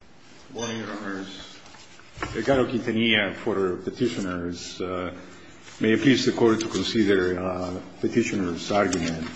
Good morning, Your Honors. Ricardo Quintanilla for Petitioners. May it please the Court to consider Petitioner's argument.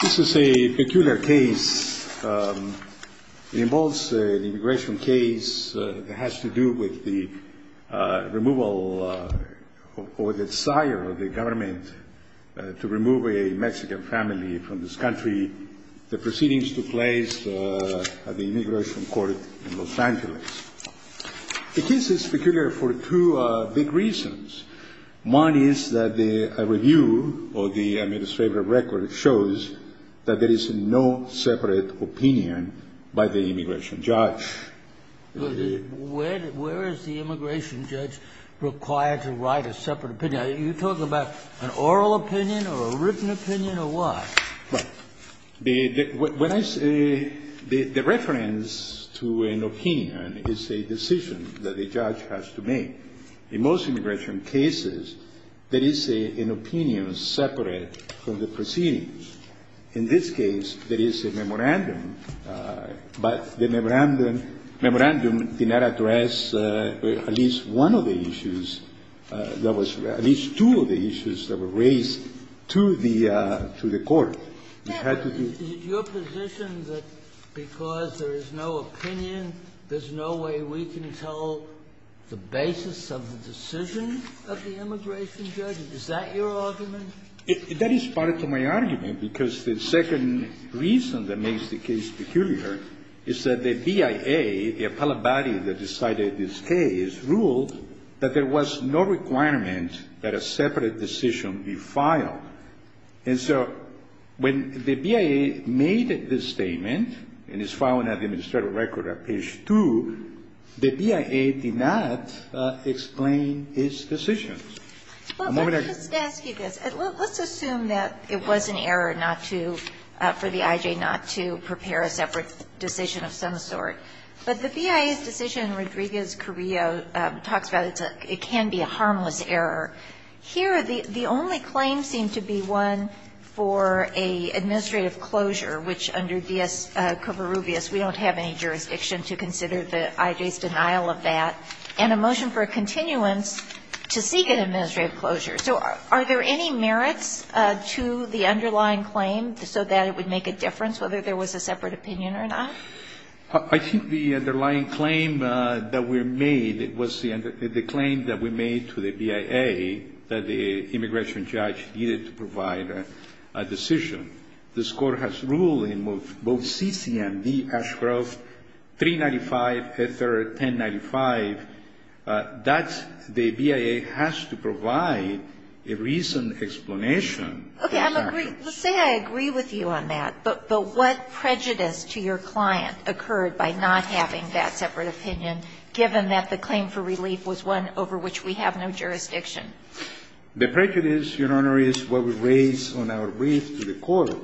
This is a peculiar case. It involves an immigration case that has to do with the removal or the desire of the government to remove a Mexican family from this country. The proceedings took place at the Immigration Court in Los Angeles. The case is peculiar for two big reasons. One is that a review of the administrative record shows that there is no separate opinion by the immigration judge. Where is the immigration judge required to write a separate opinion? You're talking about an oral opinion or a written opinion or what? Well, when I say the reference to an opinion is a decision that the judge has to make. In most immigration cases, there is an opinion separate from the proceedings. In this case, there is a memorandum, but the memorandum did not address at least one of the issues that was raised, at least two of the issues that were raised to the Court. It had to be ---- But is it your position that because there is no opinion, there's no way we can tell the basis of the decision of the immigration judge? Is that your argument? That is part of my argument, because the second reason that makes the case peculiar is that the BIA, the appellate body that decided this case, ruled that there was no requirement that a separate decision be filed. And so when the BIA made this statement and it's filed in the administrative record at page 2, the BIA did not explain its decision. Well, let me just ask you this. Let's assume that it was an error not to, for the I.J. not to prepare a separate decision of some sort. But the BIA's decision in Rodriguez-Carrillo talks about it's a ---- it can be a harmless error. Here, the only claim seemed to be one for an administrative closure, which under D.S. Covarrubias, we don't have any jurisdiction to consider the I.J.'s denial of that. And a motion for a continuance to seek an administrative closure. So are there any merits to the underlying claim so that it would make a difference whether there was a separate opinion or not? I think the underlying claim that we made was the claim that we made to the BIA that the immigration judge needed to provide a decision. This Court has ruled in both C.C. and D. Ashcroft 395, a third 1095, that the BIA has to provide a reasoned explanation for that. Okay. I'm agree. Let's say I agree with you on that. But what prejudice to your client occurred by not having that separate opinion, given that the claim for relief was one over which we have no jurisdiction? The prejudice, Your Honor, is what we raise on our brief to the Court,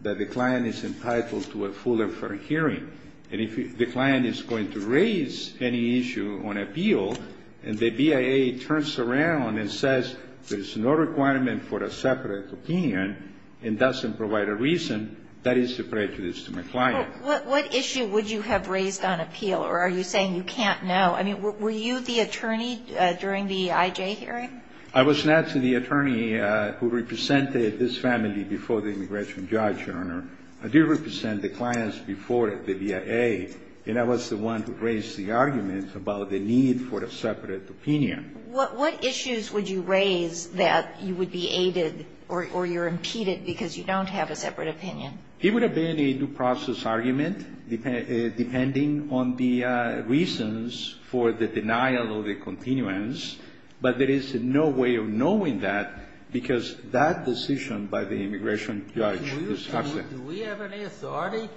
that the client is entitled to a fuller for hearing. And if the client is going to raise any issue on appeal and the BIA turns around and says there's no requirement for a separate opinion and doesn't provide a reason, that is a prejudice to my client. Well, what issue would you have raised on appeal? Or are you saying you can't know? I mean, were you the attorney during the I.J. hearing? I was not the attorney who represented this family before the immigration judge, Your Honor. I did represent the clients before the BIA. And I was the one who raised the argument about the need for a separate opinion. What issues would you raise that you would be aided or you're impeded because you don't have a separate opinion? It would have been a due process argument, depending on the reasons for the denial of the continuance. But there is no way of knowing that because that decision by the immigration judge is absent. Do we have any authority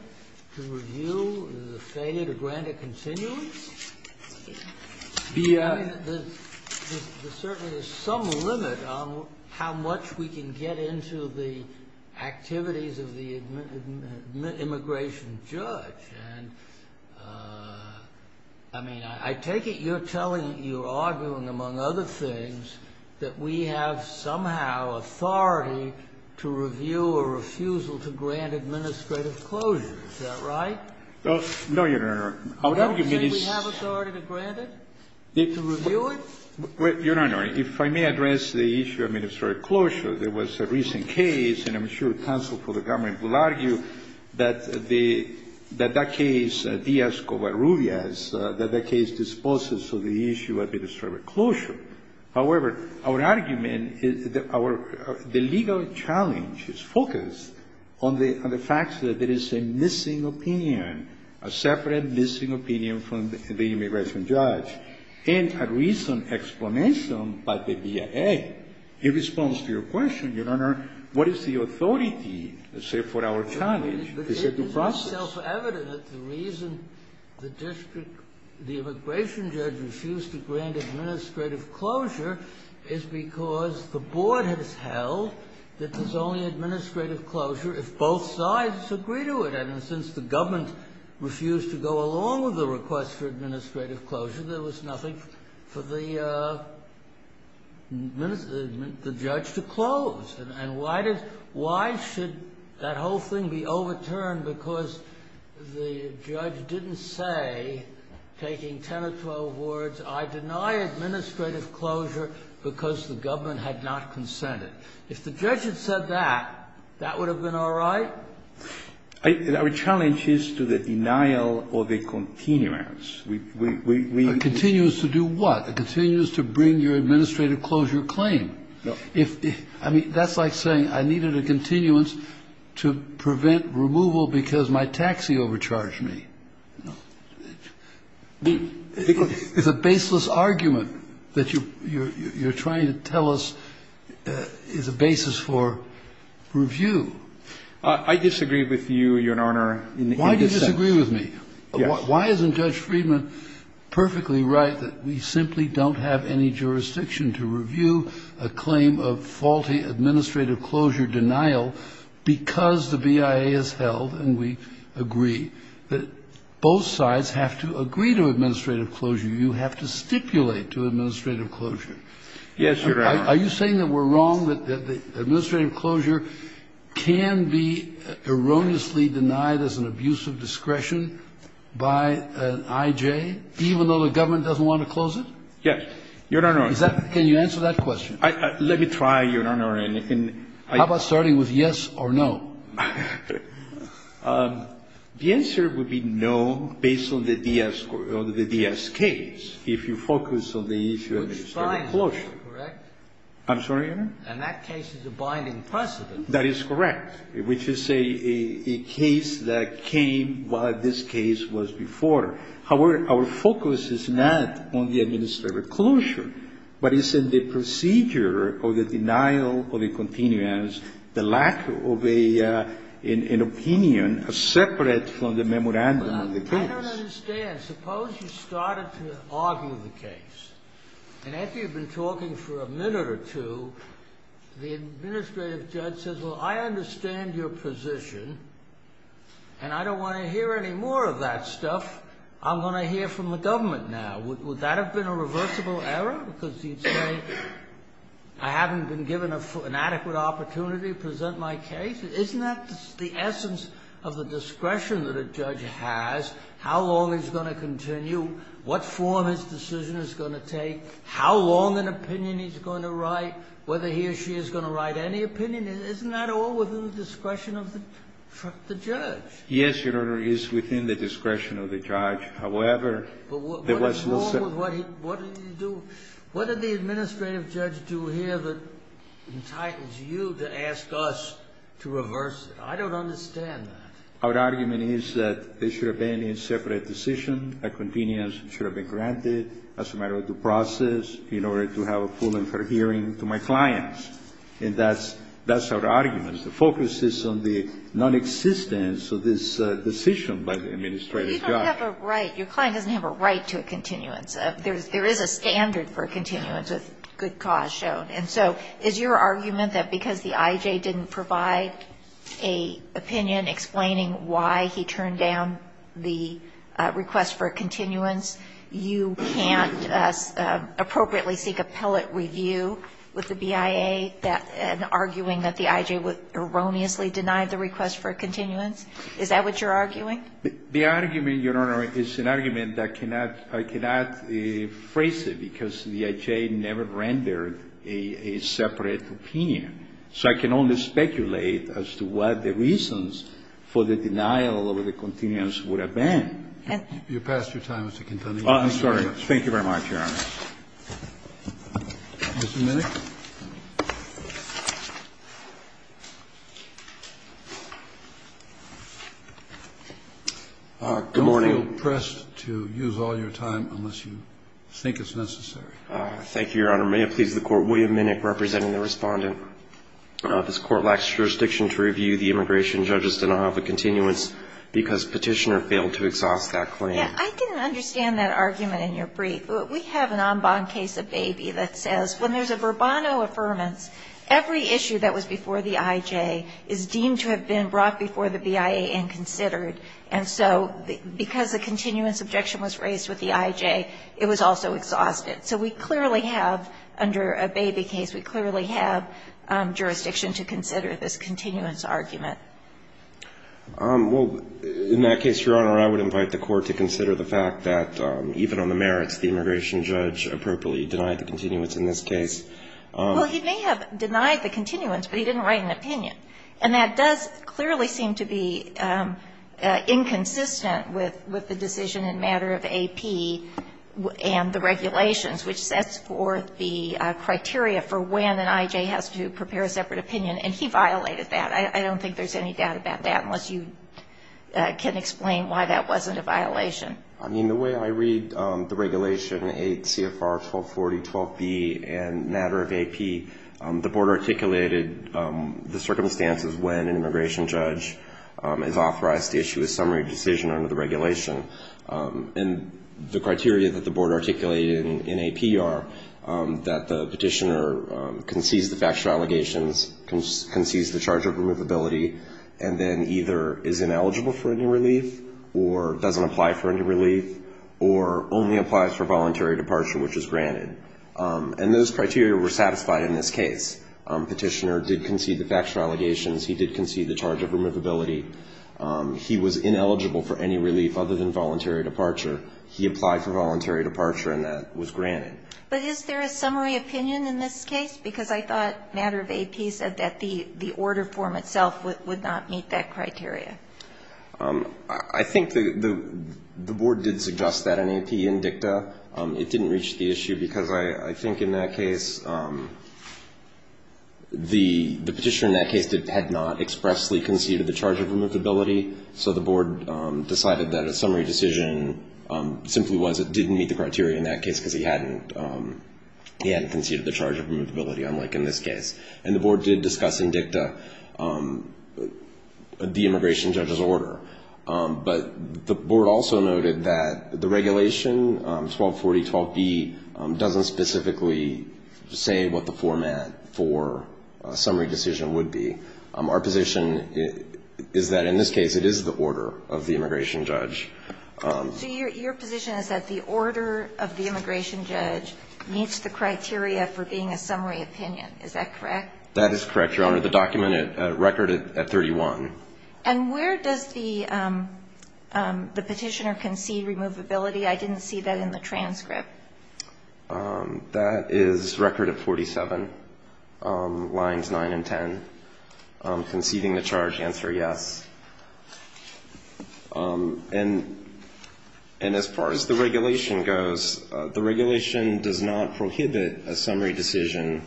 to review the failure to grant a continuance? BIA. I mean, there's certainly some limit on how much we can get into the activities of the immigration judge. And, I mean, I take it you're telling, you're arguing, among other things, that we have somehow authority to review a refusal to grant administrative closure. Is that right? No, Your Honor. I would argue that it's... Don't you think we have authority to grant it, to review it? Your Honor, if I may address the issue of administrative closure, there was a recent case, and I'm sure counsel for the government will argue that the, that that case, Diaz-Covarrubias, that that case disposes of the issue of administrative closure. However, our argument is that our, the legal challenge is focused on the, on the fact that there is a missing opinion, a separate missing opinion from the immigration judge. And a recent explanation by the BIA in response to your question, Your Honor, what is the authority, let's say, for our challenge? It's a due process. It's self-evident that the reason the district, the immigration judge refused to grant administrative closure is because the board has held that there's only administrative closure if both sides agree to it. And since the government refused to go along with the request for administrative closure, there was nothing for the judge to close. And why did, why should that whole thing be overturned because the judge didn't say, taking 10 or 12 words, I deny administrative closure because the government had not consented. If the judge had said that, that would have been all right? Our challenge is to the denial of the continuance. We, we, we... A continuance to do what? A continuance to bring your administrative closure claim. No. If, I mean, that's like saying I needed a continuance to prevent removal because my taxi overcharged me. No. It's a baseless argument that you're, you're trying to tell us is a basis for review. I disagree with you, Your Honor, in this sense. Why do you disagree with me? Yes. Why isn't Judge Friedman perfectly right that we simply don't have any jurisdiction to review a claim of faulty administrative closure denial because the BIA has held and we agree that both sides have to agree to administrative closure. Yes, Your Honor. Are you saying that we're wrong, that the administrative closure can be erroneously denied as an abuse of discretion by an I.J., even though the government doesn't want to close it? Yes. Your Honor. Can you answer that question? Let me try, Your Honor. How about starting with yes or no? The answer would be no based on the DS case, if you focus on the issue of administrative closure. Correct? I'm sorry, Your Honor? And that case is a binding precedent. That is correct, which is a case that came while this case was before. However, our focus is not on the administrative closure, but it's in the procedure of the denial of a continuance, the lack of an opinion separate from the memorandum of the case. I don't understand. Suppose you started to argue the case, and after you've been talking for a minute or two, the administrative judge says, well, I understand your position, and I don't want to hear any more of that stuff. I'm going to hear from the government now. Would that have been a reversible error? Because he'd say, I haven't been given an adequate opportunity to present my case? Isn't that the essence of the discretion that a judge has? How long he's going to continue, what form his decision is going to take, how long an opinion he's going to write, whether he or she is going to write any opinion? Isn't that all within the discretion of the judge? Yes, Your Honor, it is within the discretion of the judge. However, there was no set up. But what is wrong with what he do? What did the administrative judge do here that entitles you to ask us to reverse it? I don't understand that. Our argument is that it should have been a separate decision. A continuance should have been granted as a matter of due process in order to have a full and fair hearing to my clients. And that's our argument. The focus is on the nonexistence of this decision by the administrative judge. But you don't have a right. Your client doesn't have a right to a continuance. There is a standard for a continuance with good cause shown. And so is your argument that because the I.J. didn't provide an opinion explaining why he turned down the request for a continuance, you can't appropriately seek appellate review with the BIA and arguing that the I.J. erroneously denied the request for a continuance? Is that what you're arguing? The argument, Your Honor, is an argument that I cannot phrase it because the I.J. never rendered a separate opinion. So I can only speculate as to what the reasons for the denial of the continuance would have been. You've passed your time, Mr. Quintanilla. Thank you very much, Your Honor. Mr. Minnick. Good morning. Don't feel pressed to use all your time unless you think it's necessary. Thank you, Your Honor. May it please the Court, William Minnick representing the Respondent. This Court lacks jurisdiction to review the immigration judge's denial of a continuance because Petitioner failed to exhaust that claim. I didn't understand that argument in your brief. We have an en banc case of Baby that says when there's a verbano affirmance, every issue that was before the I.J. is deemed to have been brought before the BIA and considered. And so because a continuance objection was raised with the I.J., it was also exhausted. So we clearly have, under a Baby case, we clearly have jurisdiction to consider this continuance argument. Well, in that case, Your Honor, I would invite the Court to consider the fact that even on the merits, the immigration judge appropriately denied the continuance in this case. Well, he may have denied the continuance, but he didn't write an opinion. And that does clearly seem to be inconsistent with the decision in matter of AP and the regulations, which sets forth the criteria for when an I.J. has to prepare a separate opinion, and he violated that. I don't think there's any doubt about that unless you can explain why that wasn't a violation. I mean, the way I read the regulation, 8 CFR 1240-12B in matter of AP, the Board articulated the circumstances when an immigration judge is authorized to issue a summary decision under the regulation. And the criteria that the Board articulated in AP are that the petitioner concedes the factual allegations, concedes the charge of removability, and then either is ineligible for any relief or doesn't apply for any relief or only applies for voluntary departure, which is granted. And those criteria were satisfied in this case. Petitioner did concede the factual allegations. He did concede the charge of removability. He was ineligible for any relief other than voluntary departure. He applied for voluntary departure, and that was granted. But is there a summary opinion in this case? Because I thought matter of AP said that the order form itself would not meet that criteria. I think the Board did suggest that in AP and DICTA. It didn't reach the issue because I think in that case the petitioner in that case had not expressly conceded the charge of removability, so the Board decided that a summary decision simply was it didn't meet the criteria in that case because he hadn't conceded the charge of removability, unlike in this case. And the Board did discuss in DICTA the immigration judge's order. But the Board also noted that the regulation, 1240.12b, doesn't specifically say what the format for a summary decision would be. Our position is that in this case it is the order of the immigration judge. So your position is that the order of the immigration judge meets the criteria for being a summary opinion. Is that correct? That is correct, Your Honor. The document at record at 31. And where does the petitioner concede removability? I didn't see that in the transcript. That is record at 47, lines 9 and 10. Conceding the charge, answer yes. And as far as the regulation goes, the regulation does not prohibit a summary decision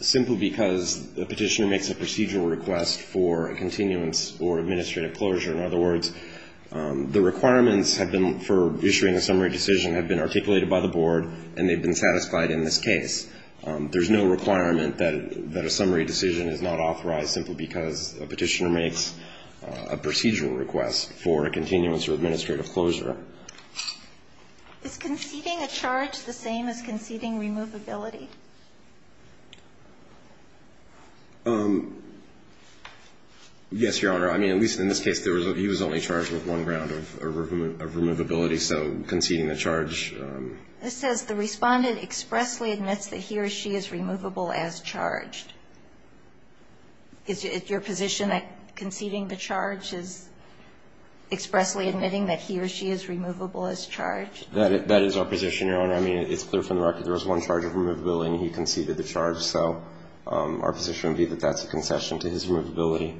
simply because the petitioner makes a procedural request for a continuance or administrative closure. In other words, the requirements have been for issuing a summary decision have been articulated by the Board and they've been satisfied in this case. There's no requirement that a summary decision is not authorized simply because a petitioner makes a procedural request for a continuance or administrative closure. Is conceding a charge the same as conceding removability? Yes, Your Honor. I mean, at least in this case, he was only charged with one round of removability, so conceding the charge. This says the Respondent expressly admits that he or she is removable as charged. Is it your position that conceding the charge is expressly admitting that he or she is removable as charged? That is our position, Your Honor. I mean, it's clear from the record there was one charge of removability and he conceded the charge. So our position would be that that's a concession to his removability.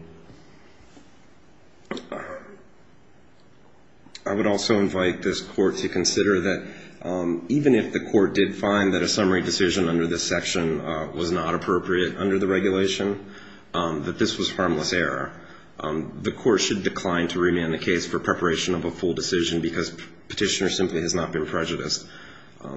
I would also invite this Court to consider that even if the Court did find that a summary decision under this section was not appropriate under the regulation, that this was harmless error, the Court should decline to remand the case for preparation of a full decision because Petitioner simply has not been prejudiced.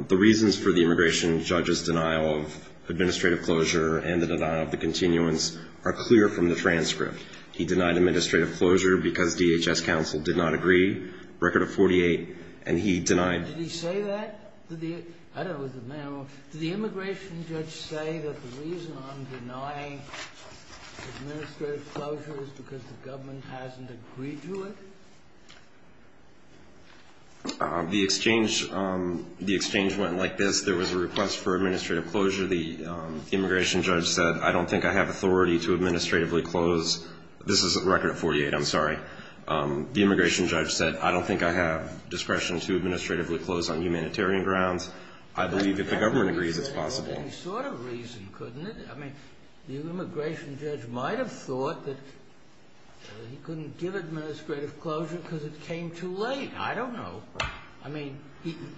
The reasons for the immigration judge's denial of administrative closure and the denial of the continuance are clear from the transcript. He denied administrative closure because DHS counsel did not agree. Record of 48. And he denied. Did he say that? I don't know. Did the immigration judge say that the reason I'm denying administrative closure is because the government hasn't agreed to it? The exchange went like this. There was a request for administrative closure. The immigration judge said, I don't think I have authority to administratively close. This is Record of 48. I'm sorry. The immigration judge said, I don't think I have discretion to administratively close on humanitarian grounds. I believe if the government agrees, it's possible. That never used any sort of reason, couldn't it? I mean, the immigration judge might have thought that he couldn't give administrative closure because it came too late. I don't know. I mean,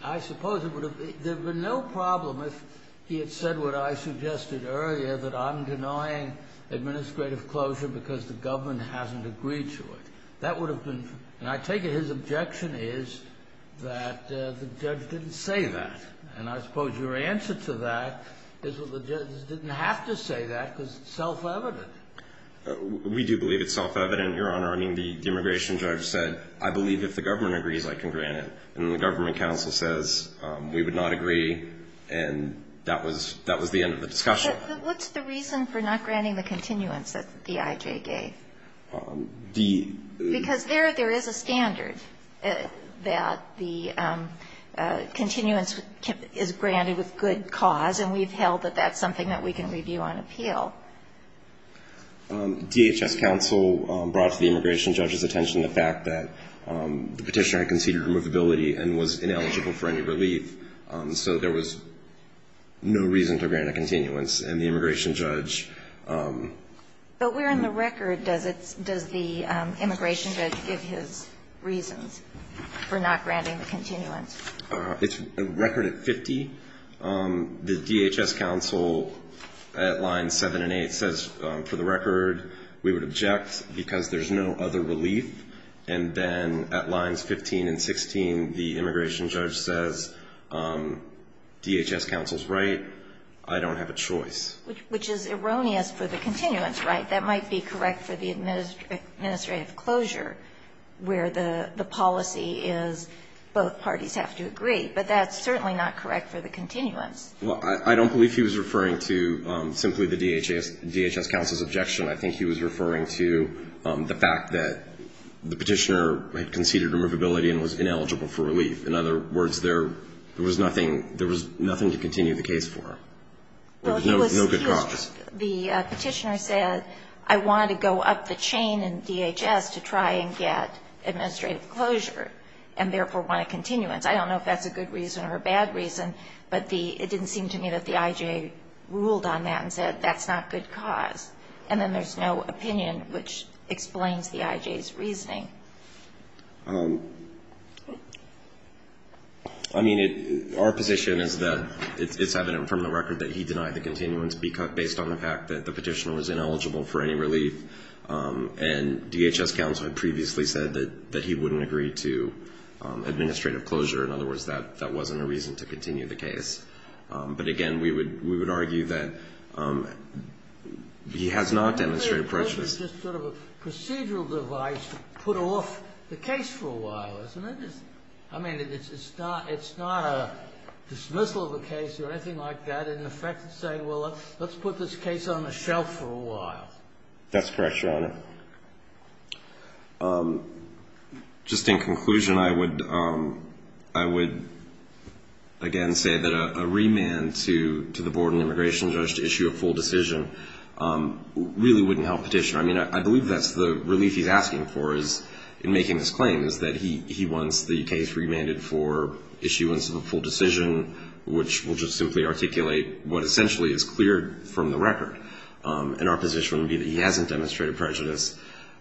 I suppose there would have been no problem if he had said what I suggested earlier, that I'm denying administrative closure because the government hasn't agreed to it. That would have been, and I take it his objection is that the judge didn't say that. And I suppose your answer to that is that the judge didn't have to say that because it's self-evident. We do believe it's self-evident, Your Honor. I mean, the immigration judge said, I believe if the government agrees, I can grant it. And the government counsel says, we would not agree, and that was the end of the discussion. But what's the reason for not granting the continuance that the IJ gave? Because there, there is a standard that the continuance is granted with good cause, and we've held that that's something that we can review on appeal. DHS counsel brought to the immigration judge's attention the fact that the Petitioner had conceded removability and was ineligible for any relief, so there was no reason to grant a continuance. And the immigration judge. But where in the record does the immigration judge give his reasons for not granting the continuance? It's a record at 50. The DHS counsel at lines 7 and 8 says, for the record, we would object because there's no other relief. And then at lines 15 and 16, the immigration judge says, DHS counsel's right. I don't have a choice. Which is erroneous for the continuance, right? That might be correct for the administrative closure where the policy is both parties have to agree. But that's certainly not correct for the continuance. Well, I don't believe he was referring to simply the DHS counsel's objection. I think he was referring to the fact that the Petitioner had conceded removability and was ineligible for relief. In other words, there was nothing to continue the case for. There was no good cause. The Petitioner said, I wanted to go up the chain in DHS to try and get administrative closure and therefore want a continuance. I don't know if that's a good reason or a bad reason, but it didn't seem to me that the I.J. ruled on that and said that's not a good cause. And then there's no opinion which explains the I.J.'s reasoning. I mean, our position is that it's evident from the record that he denied the continuance based on the fact that the Petitioner was ineligible for any relief, and DHS counsel had previously said that he wouldn't agree to administrative closure. In other words, that wasn't a reason to continue the case. But again, we would argue that he has not demonstrated prejudice. Just sort of a procedural device to put off the case for a while, isn't it? I mean, it's not a dismissal of a case or anything like that. In effect, it's saying, well, let's put this case on the shelf for a while. That's correct, Your Honor. Just in conclusion, I would, again, say that a remand to the Board of Immigration Judge to issue a full decision really wouldn't help Petitioner. I mean, I believe that's the relief he's asking for in making this claim, is that he wants the case remanded for issuance of a full decision, which will just simply articulate what essentially is cleared from the record. And our position would be that he hasn't demonstrated prejudice,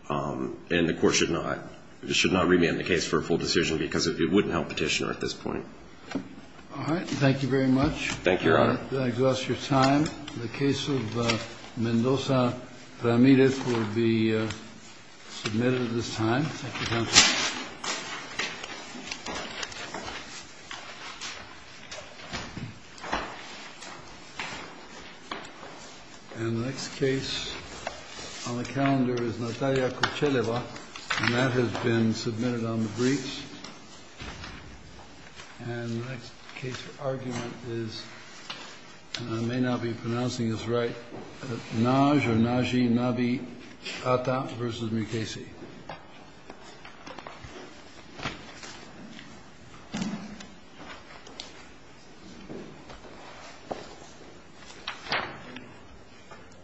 and the Court should not remand the case for a full decision because it wouldn't help Petitioner at this point. All right. Thank you very much. Thank you, Your Honor. That exhausts your time. The case of Mendoza-Ramirez will be submitted at this time. Thank you, counsel. And the next case on the calendar is Natalia Kocheleva, and that has been submitted on the briefs. And the next case for argument is, and I may not be pronouncing this right, Naj or Najee, Navee Atta v. Mukasey.